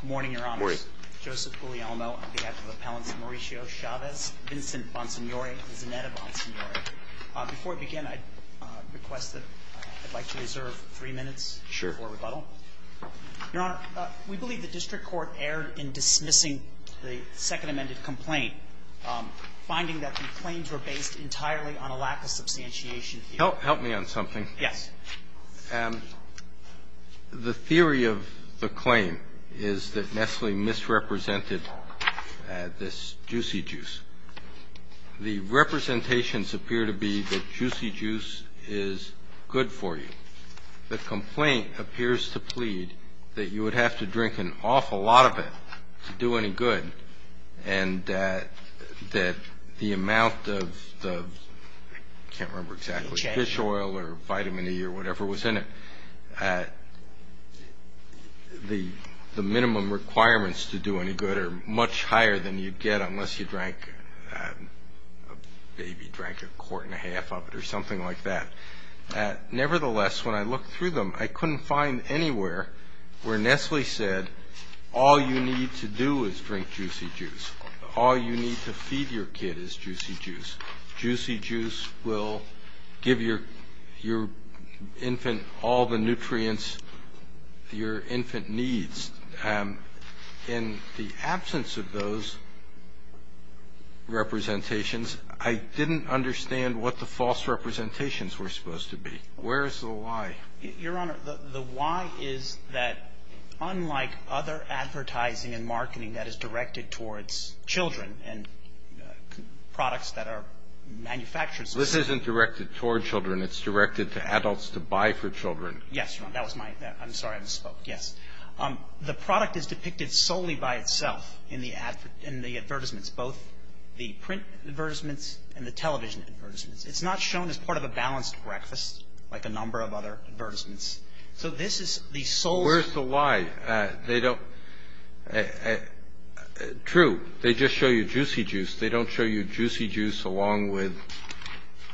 Good morning, Your Honors. Joseph Guglielmo on behalf of Appellants Mauricio Chavez, Vincent Bonsignore, and Zanetta Bonsignore. Before we begin, I'd request that I'd like to reserve three minutes for rebuttal. Your Honor, we believe the District Court erred in dismissing the second amended complaint, finding that the claims were based entirely on a lack of substantiation. Help me on something. Yes. The theory of the claim is that Nestle misrepresented this Juicy Juice. The representations appear to be that Juicy Juice is good for you. The complaint appears to plead that you would have to drink an awful lot of it to do any good, and that the amount of fish oil or vitamin E or whatever was in it, the minimum requirements to do any good are much higher than you'd get unless you drank a baby, drank a quart and a half of it or something like that. Nevertheless, when I looked through them, I couldn't find anywhere where Nestle said, all you need to do is drink Juicy Juice. All you need to feed your kid is Juicy Juice. Juicy Juice will give your infant all the nutrients your infant needs. In the absence of those representations, I didn't understand what the false representations were supposed to be. Where is the why? Your Honor, the why is that unlike other advertising and marketing that is directed towards children and products that are manufactured. This isn't directed toward children. It's directed to adults to buy for children. Yes, Your Honor. That was my – I'm sorry. I misspoke. Yes. The product is depicted solely by itself in the advertisements, both the print advertisements and the television advertisements. It's not shown as part of a balanced breakfast like a number of other advertisements. So this is the sole – Where's the why? They don't – true, they just show you Juicy Juice. They don't show you Juicy Juice along with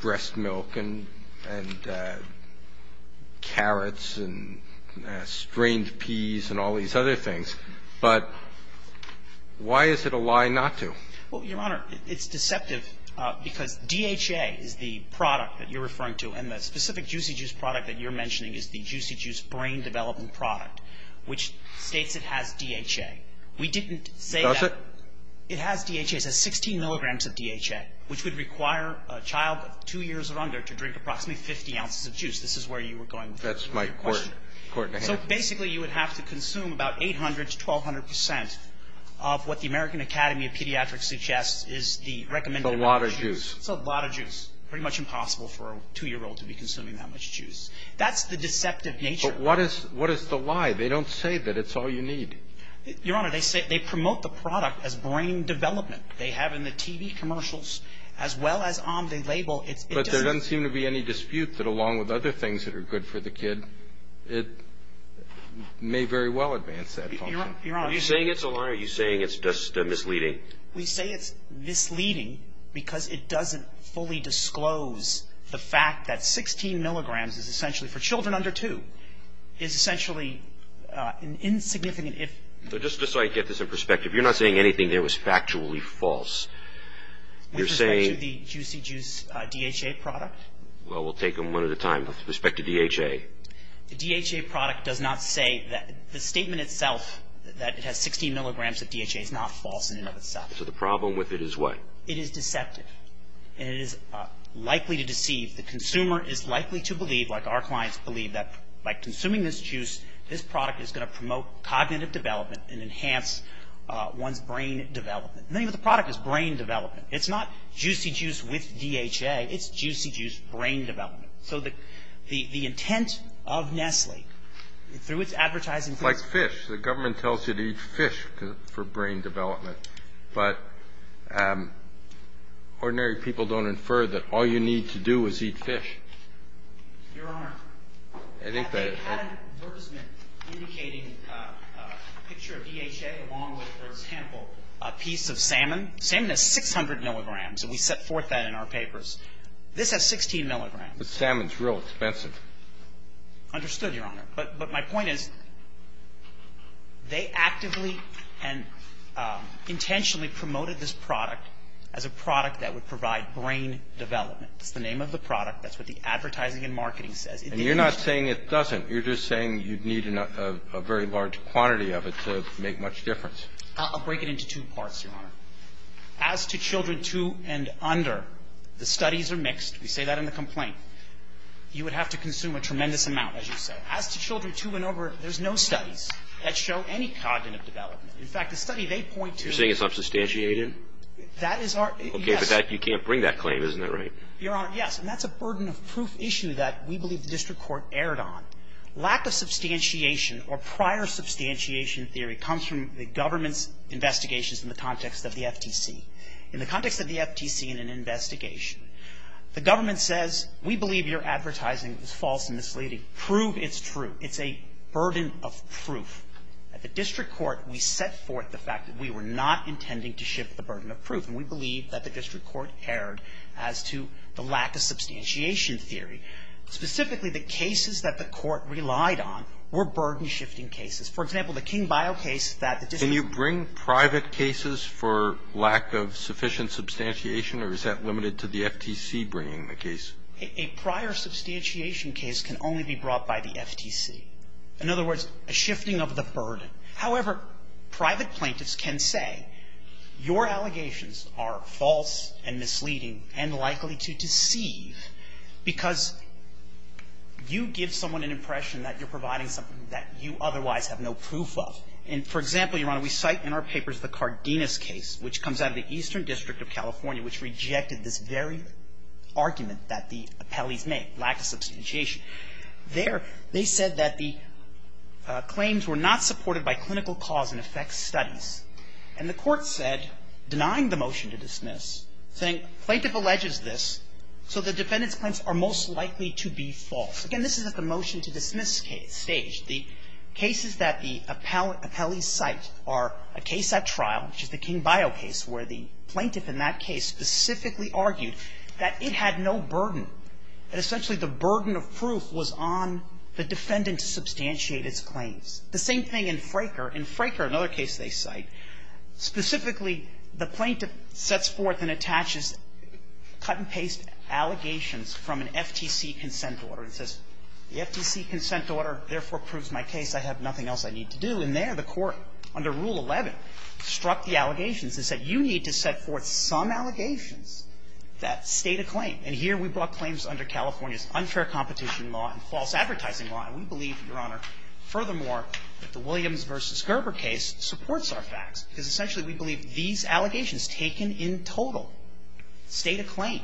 breast milk and carrots and strained peas and all these other things. But why is it a lie not to? Well, Your Honor, it's deceptive because DHA is the product that you're referring to, and the specific Juicy Juice product that you're mentioning is the Juicy Juice brain development product, which states it has DHA. We didn't say that. Does it? It has DHA. It says 16 milligrams of DHA, which would require a child of 2 years or under to drink approximately 50 ounces of juice. This is where you were going with the question. That's my court – court to hand. So basically you would have to consume about 800 to 1,200 percent of what the American Academy of Pediatrics suggests is the recommended amount of juice. It's a lot of juice. It's a lot of juice. Pretty much impossible for a 2-year-old to be consuming that much juice. That's the deceptive nature. But what is – what is the why? They don't say that it's all you need. Your Honor, they say – they promote the product as brain development. They have in the TV commercials, as well as on the label, it's – But there doesn't seem to be any dispute that along with other things that are good for the kid, it may very well advance that function. Your Honor – Are you saying it's a lie? Are you saying it's just misleading? We say it's misleading because it doesn't fully disclose the fact that 16 milligrams is essentially – for children under 2 – is essentially an insignificant if – Just so I get this in perspective, you're not saying anything there was factually false. You're saying – With respect to the Juicy Juice DHA product? Well, we'll take them one at a time. With respect to DHA. The DHA product does not say that – the statement itself that it has 16 milligrams of DHA is not false in and of itself. So the problem with it is what? It is deceptive. And it is likely to deceive. The consumer is likely to believe, like our clients believe, that by consuming this juice, this product is going to promote cognitive development and enhance one's brain development. The name of the product is brain development. It's not Juicy Juice with DHA. It's Juicy Juice brain development. So the intent of Nestle, through its advertising – Like fish. The government tells you to eat fish for brain development. But ordinary people don't infer that all you need to do is eat fish. Your Honor, they had an advertisement indicating a picture of DHA along with, for example, a piece of salmon. Salmon is 600 milligrams, and we set forth that in our papers. This has 16 milligrams. But salmon is real expensive. Understood, Your Honor. But my point is, they actively and intentionally promoted this product as a product that would provide brain development. That's the name of the product. That's what the advertising and marketing says. And you're not saying it doesn't. You're just saying you'd need a very large quantity of it to make much difference. I'll break it into two parts, Your Honor. As to children 2 and under, the studies are mixed. We say that in the complaint. You would have to consume a tremendous amount, as you say. As to children 2 and over, there's no studies that show any cognitive development. In fact, the study they point to – You're saying it's unsubstantiated? That is our – yes. Okay. But you can't bring that claim, isn't that right? Your Honor, yes. And that's a burden of proof issue that we believe the district court erred on. Lack of substantiation or prior substantiation theory comes from the government's investigations in the context of the FTC. In the context of the FTC in an investigation, the government says, we believe your advertising is false and misleading. Prove it's true. It's a burden of proof. At the district court, we set forth the fact that we were not intending to shift the burden of proof. And we believe that the district court erred as to the lack of substantiation theory. Specifically, the cases that the court relied on were burden-shifting cases. For example, the King Bio case that the district – Is that just for lack of sufficient substantiation, or is that limited to the FTC bringing the case? A prior substantiation case can only be brought by the FTC. In other words, a shifting of the burden. However, private plaintiffs can say your allegations are false and misleading and likely to deceive because you give someone an impression that you're providing something that you otherwise have no proof of. And for example, Your Honor, we cite in our papers the Cardenas case, which comes out of the Eastern District of California, which rejected this very argument that the appellees make, lack of substantiation. There, they said that the claims were not supported by clinical cause and effects studies. And the Court said, denying the motion to dismiss, saying plaintiff alleges this, so the defendant's claims are most likely to be false. Again, this is at the motion-to-dismiss stage. The cases that the appellees cite are a case at trial, which is the King-Bio case, where the plaintiff in that case specifically argued that it had no burden, that essentially the burden of proof was on the defendant to substantiate its claims. The same thing in Fraker. In Fraker, another case they cite, specifically the plaintiff sets forth and attaches cut-and-paste allegations from an FTC consent order. It says, the FTC consent order therefore proves my case. I have nothing else I need to do. And there, the Court, under Rule 11, struck the allegations and said, you need to set forth some allegations that state a claim. And here we brought claims under California's unfair competition law and false advertising law. And we believe, Your Honor, furthermore, that the Williams v. Gerber case supports our facts, because essentially we believe these allegations, taken in total, state a claim,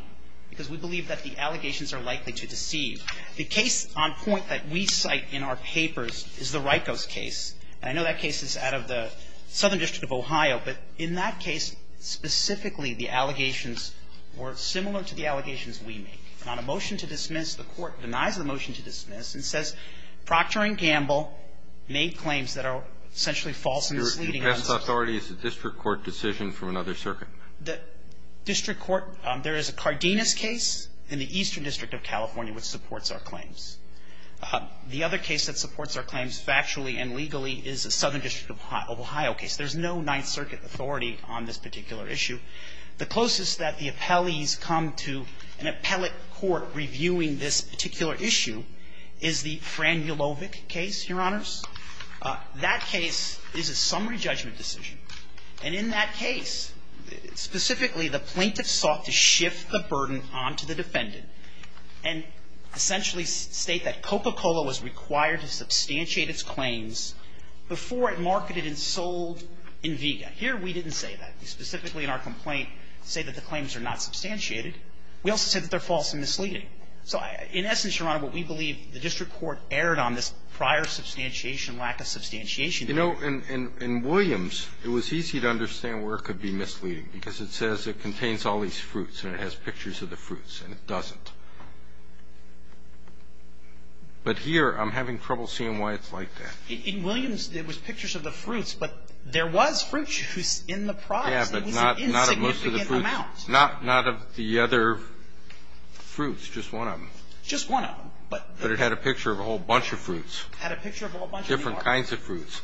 because we believe that the allegations are likely to deceive. The case on point that we cite in our papers is the Rikos case. And I know that case is out of the Southern District of Ohio. But in that case, specifically, the allegations were similar to the allegations we make. On a motion to dismiss, the Court denies the motion to dismiss and says Procter and Gamble made claims that are essentially false and misleading. The defense authority is a district court decision from another circuit. The district court – there is a Cardenas case in the Eastern District of California which supports our claims. The other case that supports our claims factually and legally is the Southern District of Ohio case. There's no Ninth Circuit authority on this particular issue. The closest that the appellees come to an appellate court reviewing this particular issue is the Franyulovic case, Your Honors. That case is a summary judgment decision. And in that case, specifically, the plaintiff sought to shift the burden onto the defendant and essentially state that Coca-Cola was required to substantiate its claims before it marketed and sold in vega. Here, we didn't say that. We specifically in our complaint say that the claims are not substantiated. We also said that they're false and misleading. So in essence, Your Honor, what we believe, the district court erred on this prior substantiation, lack of substantiation. You know, in Williams, it was easy to understand where it could be misleading because it says it contains all these fruits and it has pictures of the fruits and it doesn't. But here, I'm having trouble seeing why it's like that. In Williams, there was pictures of the fruits, but there was fruit juice in the product. It was an insignificant amount. Yeah, but not of most of the fruits. Not of the other fruits, just one of them. Just one of them. But it had a picture of a whole bunch of fruits. It had a picture of a whole bunch of fruits. Different kinds of fruits.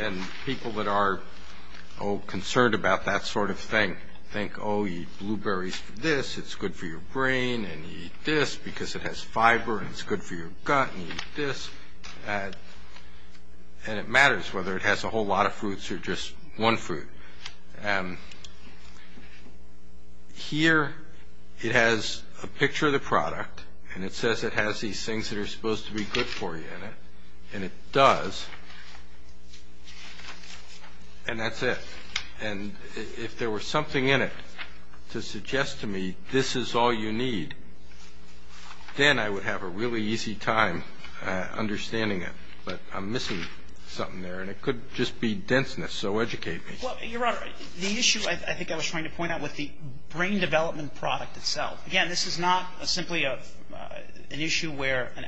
And people that are, oh, concerned about that sort of thing think, oh, you eat blueberries for this, it's good for your brain, and you eat this because it has fiber and it's good for your gut, and you eat this. And it matters whether it has a whole lot of fruits or just one fruit. Here, it has a picture of the product, and it says it has these things that are supposed to be good for you in it. And it does. And that's it. And if there were something in it to suggest to me this is all you need, then I would have a really easy time understanding it. But I'm missing something there, and it could just be denseness, so educate me. Well, Your Honor, the issue I think I was trying to point out with the brain development product itself, again, this is not simply an issue where –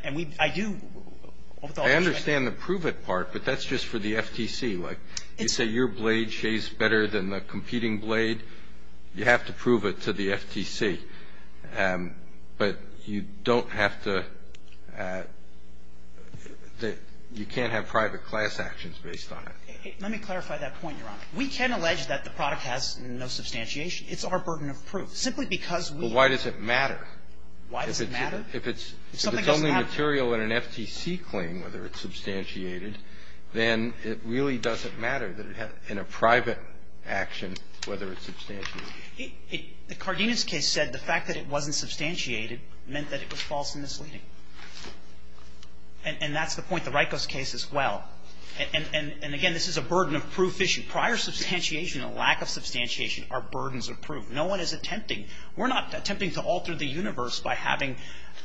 I understand the prove it part, but that's just for the FTC. Like, you say your blade shaves better than the competing blade. You have to prove it to the FTC. But you don't have to – you can't have private class actions based on it. Let me clarify that point, Your Honor. We can allege that the product has no substantiation. It's our burden of proof. Simply because we – Well, why does it matter? Why does it matter? If it's only material in an FTC claim, whether it's substantiated, then it really doesn't matter in a private action whether it's substantiated. The Cardenas case said the fact that it wasn't substantiated meant that it was false and misleading. And that's the point. The Rikos case as well. And, again, this is a burden of proof issue. Prior substantiation and lack of substantiation are burdens of proof. No one is attempting – No one is attempting to justify having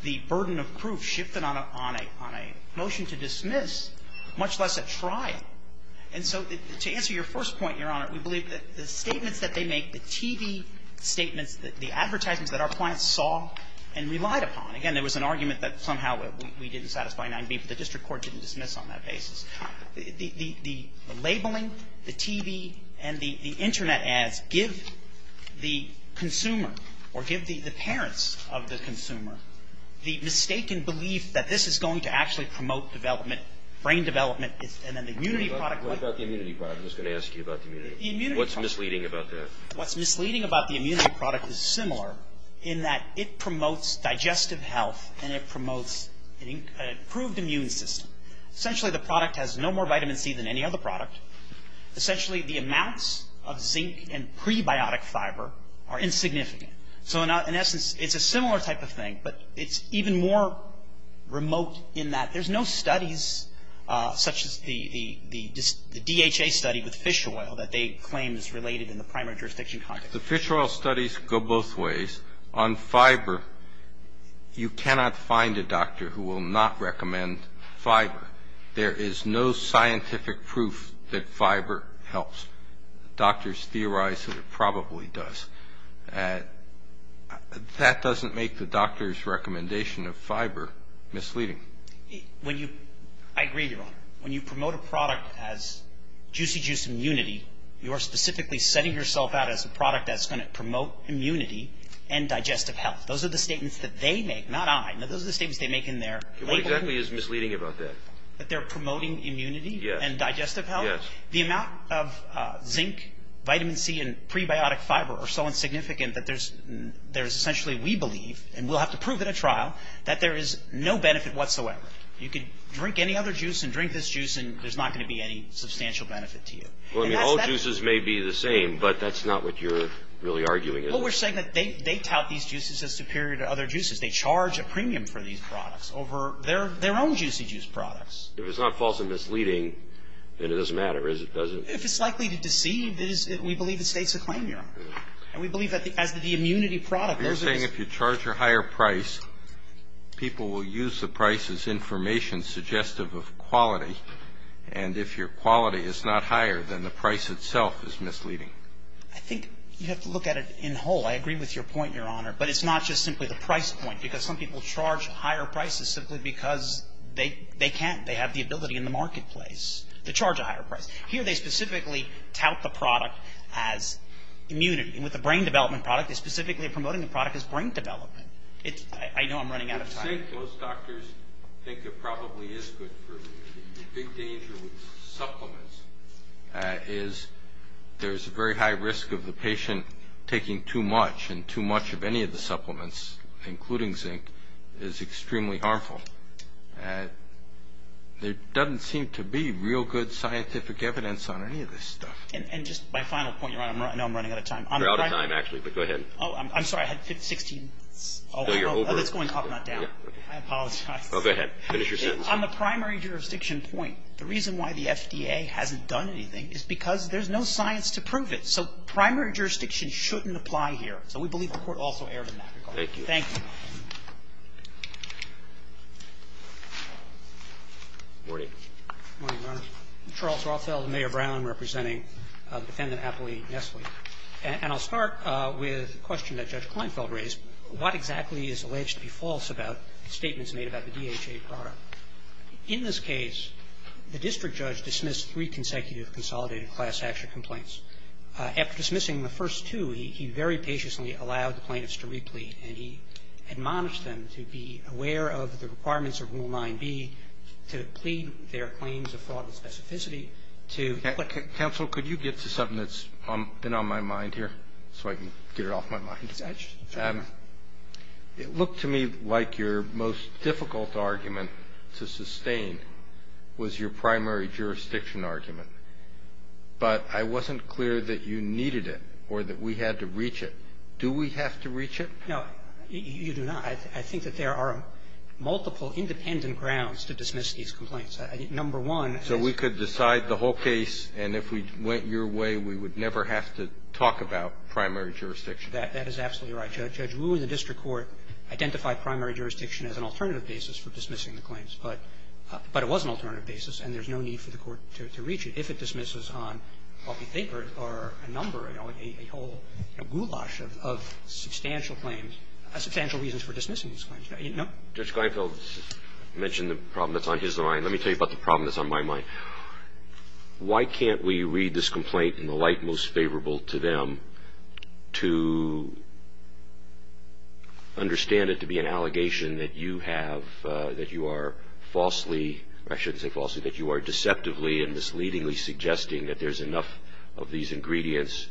the burden of proof shifted on a – on a motion to dismiss, much less a trial. And so to answer your first point, Your Honor, we believe that the statements that they make, the TV statements, the advertisements that our clients saw and relied upon – again, there was an argument that somehow we didn't satisfy 9b, but the district court didn't dismiss on that basis. The labeling, the TV, and the Internet ads give the consumer or give the parents of the consumer the mistaken belief that this is going to actually promote development, brain development, and then the immunity product. What about the immunity product? I'm just going to ask you about the immunity product. What's misleading about that? What's misleading about the immunity product is similar in that it promotes digestive health and it promotes an improved immune system. Essentially, the product has no more vitamin C than any other product. Essentially, the amounts of zinc and prebiotic fiber are insignificant. So in essence, it's a similar type of thing, but it's even more remote in that there's no studies such as the DHA study with fish oil that they claim is related in the primary jurisdiction context. The fish oil studies go both ways. On fiber, you cannot find a doctor who will not recommend fiber. There is no scientific proof that fiber helps. Doctors theorize that it probably does. That doesn't make the doctor's recommendation of fiber misleading. I agree, Your Honor. When you promote a product as juicy juice immunity, you're specifically setting yourself out as a product that's going to promote immunity and digestive health. Those are the statements that they make, not I. Those are the statements they make in their label. What exactly is misleading about that? That they're promoting immunity and digestive health? Yes. The amount of zinc, vitamin C, and prebiotic fiber are so insignificant that there's essentially, we believe, and we'll have to prove at a trial, that there is no benefit whatsoever. You can drink any other juice and drink this juice and there's not going to be any substantial benefit to you. Well, I mean, all juices may be the same, but that's not what you're really arguing is it? Well, we're saying that they tout these juices as superior to other juices. They charge a premium for these products over their own juicy juice products. If it's not false and misleading, then it doesn't matter, does it? If it's likely to deceive, we believe it states a claim, Your Honor. And we believe that as the immunity product, there's a risk. You're saying if you charge a higher price, people will use the price as information suggestive of quality, and if your quality is not higher, then the price itself is misleading? I think you have to look at it in whole. I agree with your point, Your Honor. But it's not just simply the price point. Because some people charge higher prices simply because they can't. They have the ability in the marketplace to charge a higher price. Here, they specifically tout the product as immunity. With the brain development product, they're specifically promoting the product as brain development. I know I'm running out of time. I think most doctors think it probably is good for people. The big danger with supplements is there's a very high risk of the patient taking too much, and too much of any of the supplements, including zinc, is extremely harmful. There doesn't seem to be real good scientific evidence on any of this stuff. And just my final point, Your Honor. I know I'm running out of time. You're out of time, actually, but go ahead. Oh, I'm sorry. I had 16 minutes. No, you're over. Oh, that's going up, not down. I apologize. Oh, go ahead. Finish your sentence. On the primary jurisdiction point, the reason why the FDA hasn't done anything is because there's no science to prove it. So primary jurisdiction shouldn't apply here. So we believe the Court also erred in that regard. Thank you. Thank you. Morning. Morning, Your Honor. Charles Rothfeld, Mayor Brown, representing Defendant Appley Nestle. Thank you. And I'll start with a question that Judge Kleinfeld raised. What exactly is alleged to be false about statements made about the DHA product? In this case, the district judge dismissed three consecutive consolidated class-action complaints. After dismissing the first two, he very patiently allowed the plaintiffs to replete, and he admonished them to be aware of the requirements of Rule 9b to plead their claims of fraud and specificity to the court. Counsel, could you get to something that's been on my mind here so I can get it off my mind? It looked to me like your most difficult argument to sustain was your primary jurisdiction argument. But I wasn't clear that you needed it or that we had to reach it. Do we have to reach it? No, you do not. I think that there are multiple independent grounds to dismiss these complaints. I think number one is that we could decide the whole case, and if we went your way, we would never have to talk about primary jurisdiction. That is absolutely right. Judge Wu in the district court identified primary jurisdiction as an alternative basis for dismissing the claims. But it was an alternative basis, and there's no need for the court to reach it. If it dismisses on what we think are a number, you know, a whole goulash of substantial claims, substantial reasons for dismissing these claims, no. Judge Kleinfeld mentioned the problem that's on his mind. Let me tell you about the problem that's on my mind. Why can't we read this complaint in the light most favorable to them to understand it to be an allegation that you have, that you are falsely, or I shouldn't say falsely, that you are deceptively and misleadingly suggesting that there's enough of these ingredients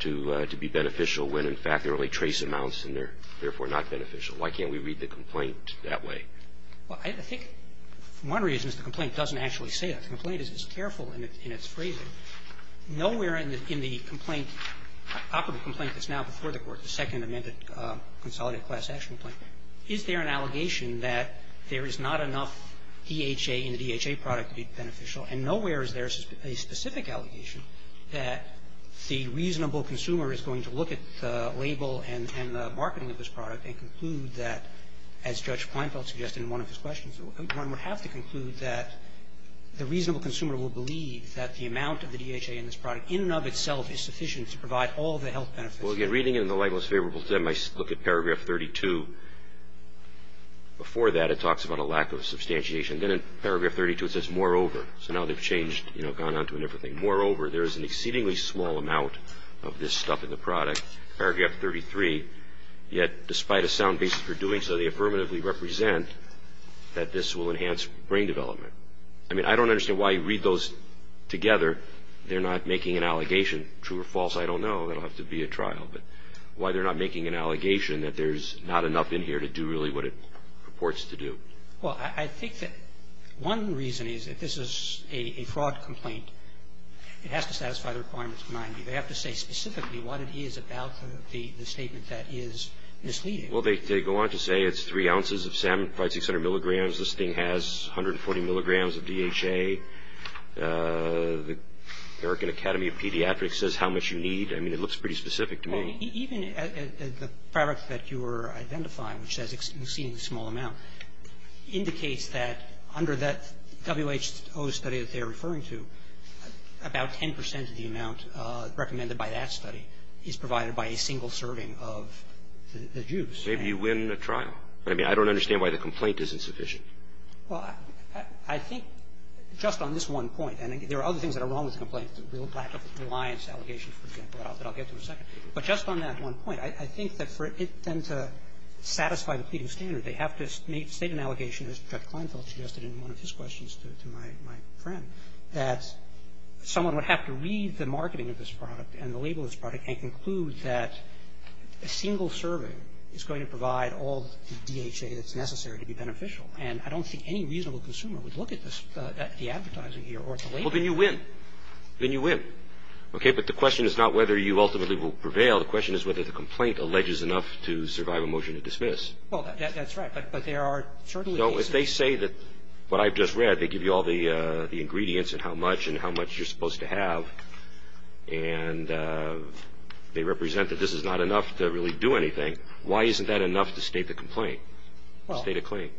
to be beneficial when, in fact, they're only trace amounts and they're therefore not beneficial? Why can't we read the complaint that way? Well, I think one reason is the complaint doesn't actually say that. The complaint is it's careful in its phrasing. Nowhere in the complaint, operative complaint that's now before the Court, the Second Amendment Consolidated Class Action Complaint, is there an allegation that there is not enough DHA in the DHA product to be beneficial, and nowhere is there a specific allegation that the reasonable consumer is going to look at the label and the marketing of this product and conclude that, as Judge Feinfeld suggested in one of his questions, one would have to conclude that the reasonable consumer will believe that the amount of the DHA in this product in and of itself is sufficient to provide all the health benefits. Well, again, reading it in the light most favorable to them, I look at paragraph 32. Before that, it talks about a lack of substantiation. Then in paragraph 32, it says, moreover. So now they've changed, you know, gone on to a different thing. Moreover, there is an exceedingly small amount of this stuff in the product. Paragraph 33, yet despite a sound basis for doing so, they affirmatively represent that this will enhance brain development. I mean, I don't understand why you read those together. They're not making an allegation. True or false, I don't know. That'll have to be a trial. But why they're not making an allegation that there's not enough in here to do really what it purports to do. Well, I think that one reason is that this is a fraud complaint. It has to satisfy the requirements of 9B. They have to say specifically what it is about the statement that is misleading. Well, they go on to say it's 3 ounces of salmon, probably 600 milligrams. This thing has 140 milligrams of DHA. The American Academy of Pediatrics says how much you need. I mean, it looks pretty specific to me. Even the product that you were identifying, which says exceedingly small amount, indicates that under that WHO study that they are referring to, about 10 percent of the amount recommended by that study is provided by a single serving of the juice. Maybe you win a trial. I mean, I don't understand why the complaint isn't sufficient. Well, I think just on this one point, and there are other things that are wrong with the complaint, real lack of reliance allegations, for example, that I'll get to in a second. But just on that one point, I think that for it then to satisfy the pleading standard, they have to state an allegation, as Judge Kleinfeld suggested in one of his questions to my friend, that someone would have to read the marketing of this product and the label of this product and conclude that a single serving is going to provide all the DHA that's necessary to be beneficial. And I don't think any reasonable consumer would look at this, at the advertising here or at the label. Well, then you win. Then you win. Okay? But the question is not whether you ultimately will prevail. The question is whether the complaint alleges enough to survive a motion to dismiss. Well, that's right. But there are certainly cases. No. If they say that what I've just read, they give you all the ingredients and how much and how much you're supposed to have, and they represent that this is not enough to really do anything, why isn't that enough to state the complaint, state a claim?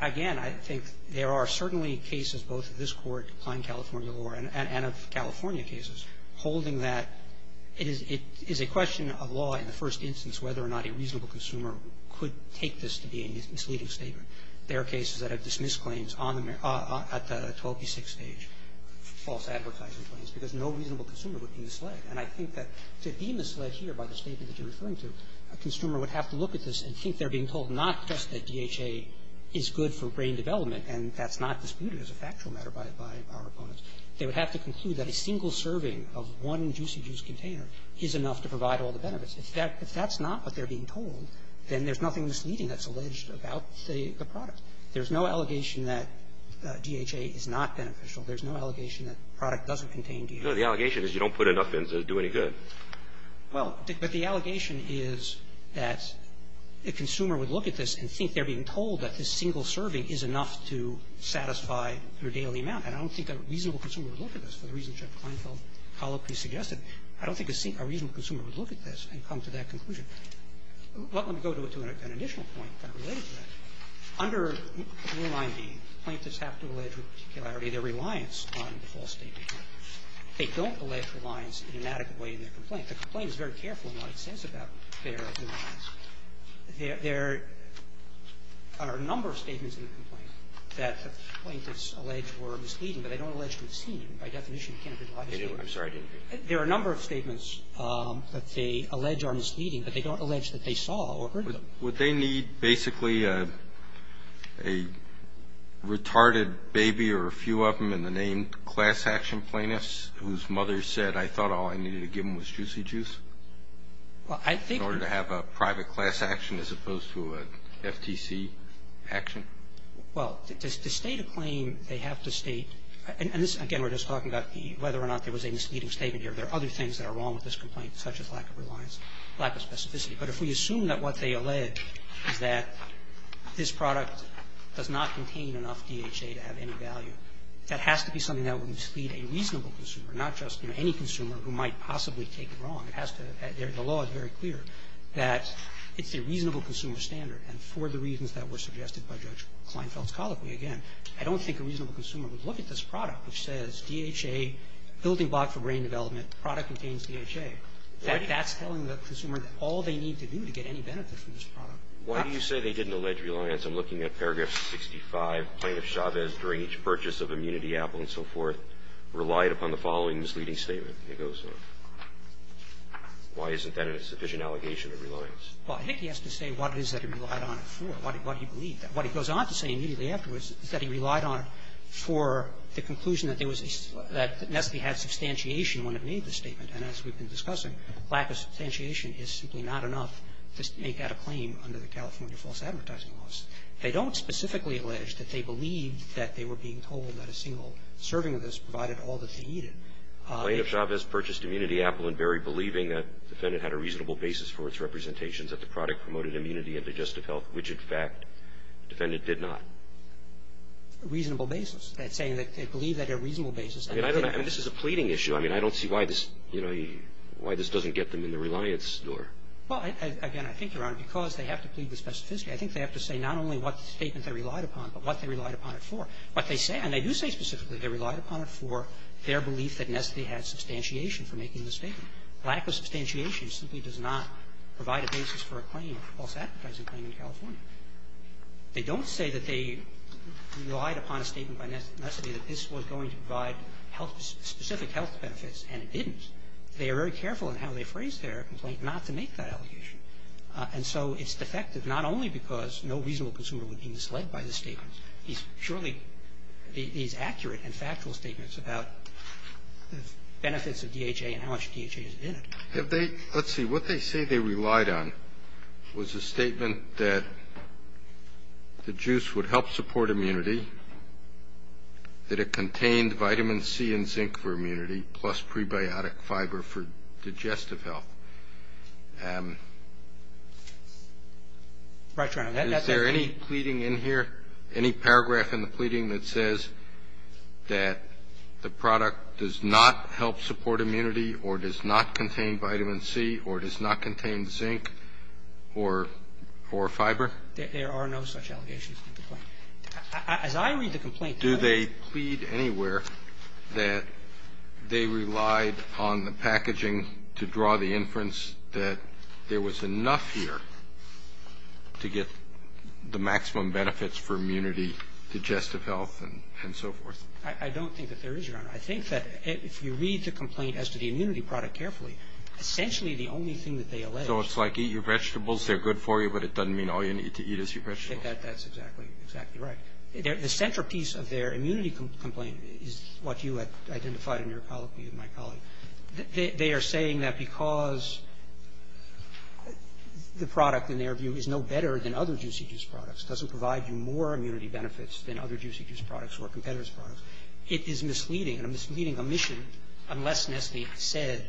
Again, I think there are certainly cases, both of this Court applying California law and of California cases, holding that it is a question of law in the first instance whether or not a reasonable consumer could take this to be a misleading statement. There are cases that have dismissed claims on the 12b6 stage, false advertising claims, because no reasonable consumer would be misled. And I think that to be misled here by the statement that you're referring to, a consumer would have to look at this and think they're being told not just that DHA is good for brain development, and that's not disputed as a factual matter by our opponents. They would have to conclude that a single serving of one juicy juice container is enough to provide all the benefits. If that's not what they're being told, then there's nothing misleading that's alleged about the product. There's no allegation that DHA is not beneficial. There's no allegation that the product doesn't contain DHA. The allegation is you don't put enough in to do any good. Well, but the allegation is that a consumer would look at this and think they're being told that this single serving is enough to satisfy their daily amount. And I don't think a reasonable consumer would look at this. For the reasons Judge Kleinfeld colloquially suggested, I don't think a reasonable consumer would look at this and come to that conclusion. Let me go to an additional point kind of related to that. Under Rule 9b, plaintiffs have to allege with particularity their reliance on the false statement. They don't allege reliance in an adequate way in their complaint. The complaint is very careful in what it says about their reliance. There are a number of statements in the complaint that the plaintiffs allege were misleading, but they don't allege to have seen. By definition, it can't be a reliance statement. I'm sorry, I didn't hear you. There are a number of statements that they allege are misleading, but they don't allege that they saw or heard them. Would they need basically a retarded baby or a few of them in the name class action in order to have a private class action as opposed to an FTC action? Well, to state a claim, they have to state, and again, we're just talking about whether or not there was a misleading statement here. There are other things that are wrong with this complaint, such as lack of reliance, lack of specificity. But if we assume that what they allege is that this product does not contain enough DHA to have any value, that has to be something that would mislead a reasonable consumer, not just, you know, any consumer who might possibly take it wrong. It has to be the law is very clear that it's a reasonable consumer standard. And for the reasons that were suggested by Judge Kleinfeld's colloquy, again, I don't think a reasonable consumer would look at this product which says DHA, building block for brain development, product contains DHA. That's telling the consumer all they need to do to get any benefit from this product. Why do you say they didn't allege reliance? I'm looking at paragraph 65, Plaintiff Chavez, during each purchase of immunity apple and so forth, relied upon the following misleading statement. It goes on. Why isn't that a sufficient allegation of reliance? Well, I think he has to say what it is that he relied on it for, what he believed in. What he goes on to say immediately afterwards is that he relied on it for the conclusion that there was a – that Nestle had substantiation when it made the statement. And as we've been discussing, lack of substantiation is simply not enough to make that a claim under the California false advertising laws. They don't specifically allege that they believed that they were being told that a single serving of this provided all that they needed. Plaintiff Chavez purchased immunity apple in very believing that the defendant had a reasonable basis for its representations that the product promoted immunity and digestive health, which, in fact, the defendant did not. A reasonable basis. That's saying that they believe that a reasonable basis. I mean, this is a pleading issue. I mean, I don't see why this, you know, why this doesn't get them in the reliance door. Well, again, I think, Your Honor, because they have to plead with specificity, I think they have to say not only what statement they relied upon, but what they relied upon it for, what they say. And they do say specifically they relied upon it for their belief that Nestle had substantiation for making the statement. Lack of substantiation simply does not provide a basis for a claim, false advertising claim in California. They don't say that they relied upon a statement by Nestle that this was going to provide health – specific health benefits, and it didn't. They are very careful in how they phrase their complaint not to make that allegation. And so it's defective not only because no reasonable consumer would be misled by this statement. It's surely these accurate and factual statements about the benefits of DHA and how much DHA is in it. Have they – let's see. What they say they relied on was a statement that the juice would help support immunity, that it contained vitamin C and zinc for immunity, plus prebiotic fiber for digestive health. Is there any pleading in here, any paragraph in the pleading that says that the product does not help support immunity or does not contain vitamin C or does not contain zinc or fiber? There are no such allegations in the complaint. As I read the complaint, I don't think that's true. Is there any difference that there was enough here to get the maximum benefits for immunity, digestive health, and so forth? I don't think that there is, Your Honor. I think that if you read the complaint as to the immunity product carefully, essentially the only thing that they allege – So it's like eat your vegetables, they're good for you, but it doesn't mean all you need to eat is your vegetables. That's exactly – exactly right. The centerpiece of their immunity complaint is what you identified in your colleague They are saying that because the product, in their view, is no better than other juicy juice products, doesn't provide you more immunity benefits than other juicy juice products or competitor's products, it is misleading, a misleading omission unless Nestle said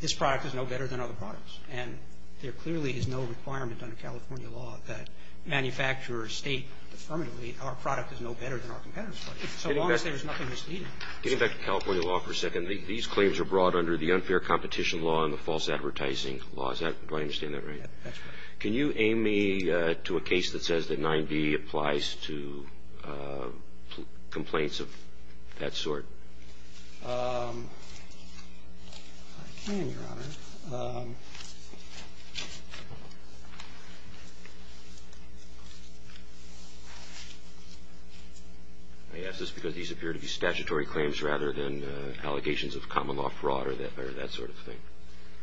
this product is no better than other products. And there clearly is no requirement under California law that manufacturers state affirmatively our product is no better than our competitor's product. So long as there's nothing misleading. Getting back to California law for a second, these claims are brought under the unfair competition law and the false advertising law. Is that – do I understand that right? That's right. Can you aim me to a case that says that 9B applies to complaints of that sort? I can, Your Honor. I ask this because these appear to be statutory claims rather than allegations of common law fraud or that sort of thing.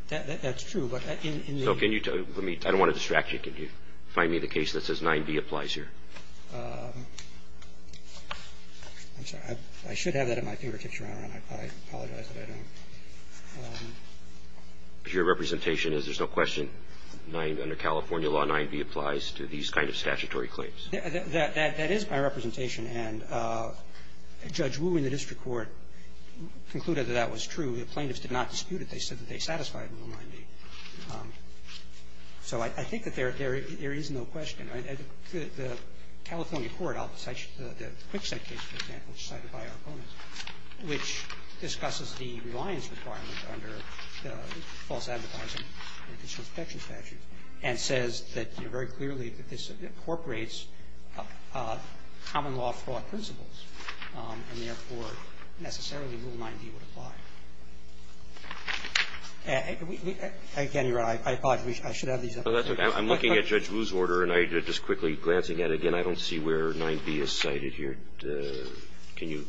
That's true, but in the – So can you tell me – I don't want to distract you. Can you find me the case that says 9B applies here? I'm sorry. I should have that at my fingertips, Your Honor. I apologize that I don't. Your representation is there's no question 9B, under California law, 9B applies to these kind of statutory claims. That is my representation. And Judge Wu in the district court concluded that that was true. The plaintiffs did not dispute it. They said that they satisfied 9B. So I think that there is no question. The California court, the QuickSent case, for example, cited by our opponents, which discusses the reliance requirement under the false advertising and disinspection statute, and says that very clearly that this incorporates common law fraud principles, and therefore, necessarily, Rule 9B would apply. Again, Your Honor, I apologize. I should have these at my fingertips. I'm looking at Judge Wu's order, and I'm just quickly glancing at it. Again, I don't see where 9B is cited here. Can you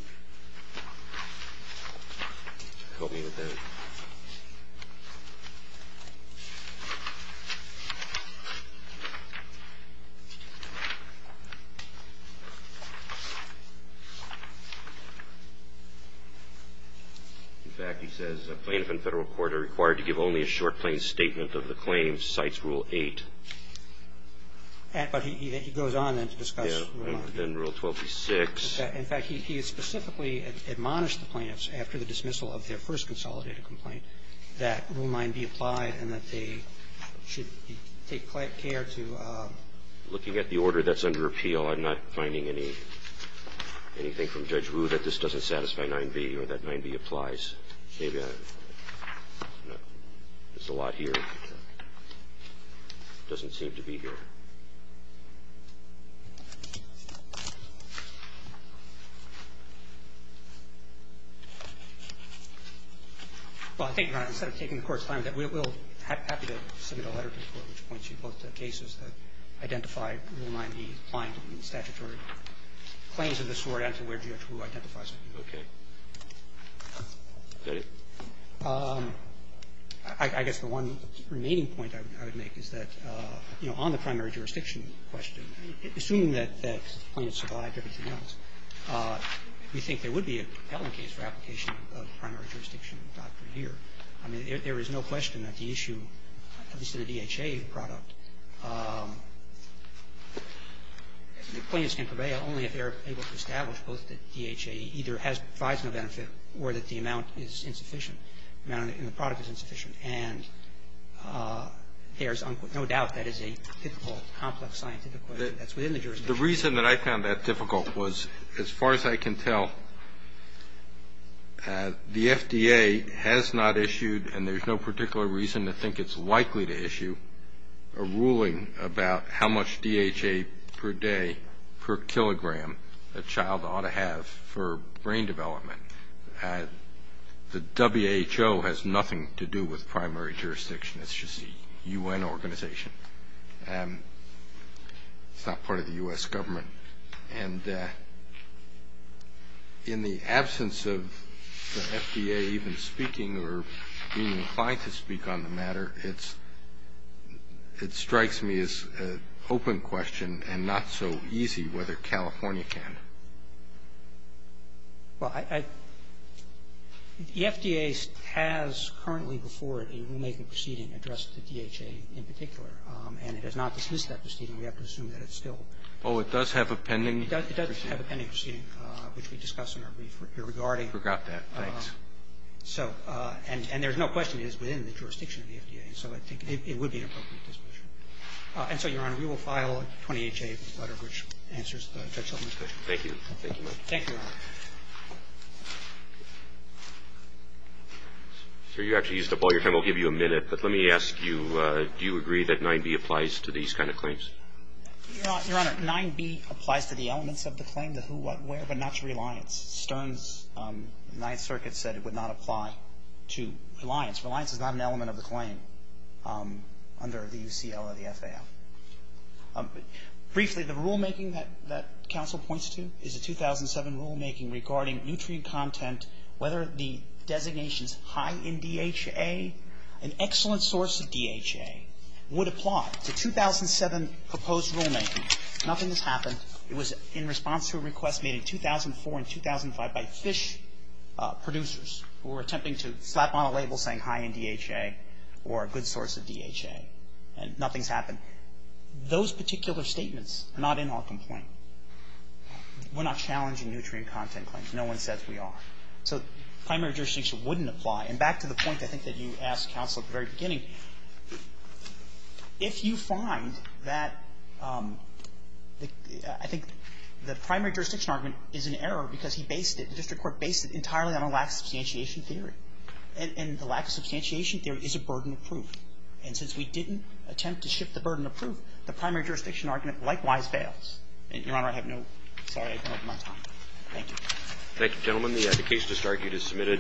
help me with that? In fact, he says, that plaintiff and Federal court are required to give only a short plain statement of the claim, cites Rule 8. But he goes on, then, to discuss Rule 9B. Then Rule 12b-6. In fact, he specifically admonished the plaintiffs after the dismissal of their first consolidated complaint that Rule 9B applied and that they should take care to looking at the order that's under appeal. I'm not finding anything from Judge Wu that this doesn't satisfy 9B or that 9B applies. Maybe I don't know. There's a lot here that doesn't seem to be here. Well, I think, Your Honor, instead of taking the Court's time, that we will have to submit a letter to the Court which points you both to cases that identify Rule 9B's client and statutory claims of this sort and to where Judge Wu identifies them. Okay. Go ahead. I guess the one remaining point I would make is that, you know, on the primary jurisdiction question, assuming that the plaintiff survived everything else, we think there would be a compelling case for application of primary jurisdiction doctrine here. I mean, there is no question that the issue, at least in the DHA product, the plaintiffs can prevail only if they're able to establish both that DHA either has or provides no benefit or that the amount is insufficient, the amount in the product is insufficient, and there's no doubt that is a typical complex scientific question that's within the jurisdiction. The reason that I found that difficult was, as far as I can tell, the FDA has not issued and there's no particular reason to think it's likely to issue a ruling about how much DHA per day per kilogram a child ought to have for brain development. The WHO has nothing to do with primary jurisdiction. It's just a U.N. organization. It's not part of the U.S. government. And in the absence of the FDA even speaking or being inclined to speak on the matter, it's strikes me as an open question and not so easy whether California can. Well, I the FDA has currently before it a rulemaking proceeding addressed to DHA in particular, and it has not dismissed that proceeding. We have to assume that it's still. Oh, it does have a pending proceeding. It does have a pending proceeding, which we discussed in our brief regarding. I forgot that. Thanks. So, and there's no question it is within the jurisdiction of the FDA, so I think it would be an appropriate discussion. And so, Your Honor, we will file a 20HA letter, which answers the judge's open question. Thank you. Thank you, Your Honor. Thank you, Your Honor. Sir, you actually used up all your time. We'll give you a minute, but let me ask you, do you agree that 9B applies to these kind of claims? Your Honor, 9B applies to the elements of the claim, the who, what, where, but not to reliance. Stern's Ninth Circuit said it would not apply to reliance. Reliance is not an element of the claim under the UCL or the FAO. Briefly, the rulemaking that counsel points to is a 2007 rulemaking regarding nutrient content, whether the designation's high in DHA, an excellent source of DHA, would apply. It's a 2007 proposed rulemaking. Nothing has happened. It was in response to a request made in 2004 and 2005 by fish producers who were attempting to slap on a label saying high in DHA or a good source of DHA, and nothing's happened. Those particular statements are not in our complaint. We're not challenging nutrient content claims. No one says we are. So primary jurisdiction wouldn't apply. And back to the point, I think, that you asked counsel at the very beginning, if you find that, I think, the primary jurisdiction argument is in error because he based it, the district court based it entirely on a lack of substantiation theory. And the lack of substantiation theory is a burden of proof. And since we didn't attempt to shift the burden of proof, the primary jurisdiction argument likewise fails. And, Your Honor, I have no, sorry, I've been over my time. Thank you. Thank you, gentlemen. The case just argued is submitted.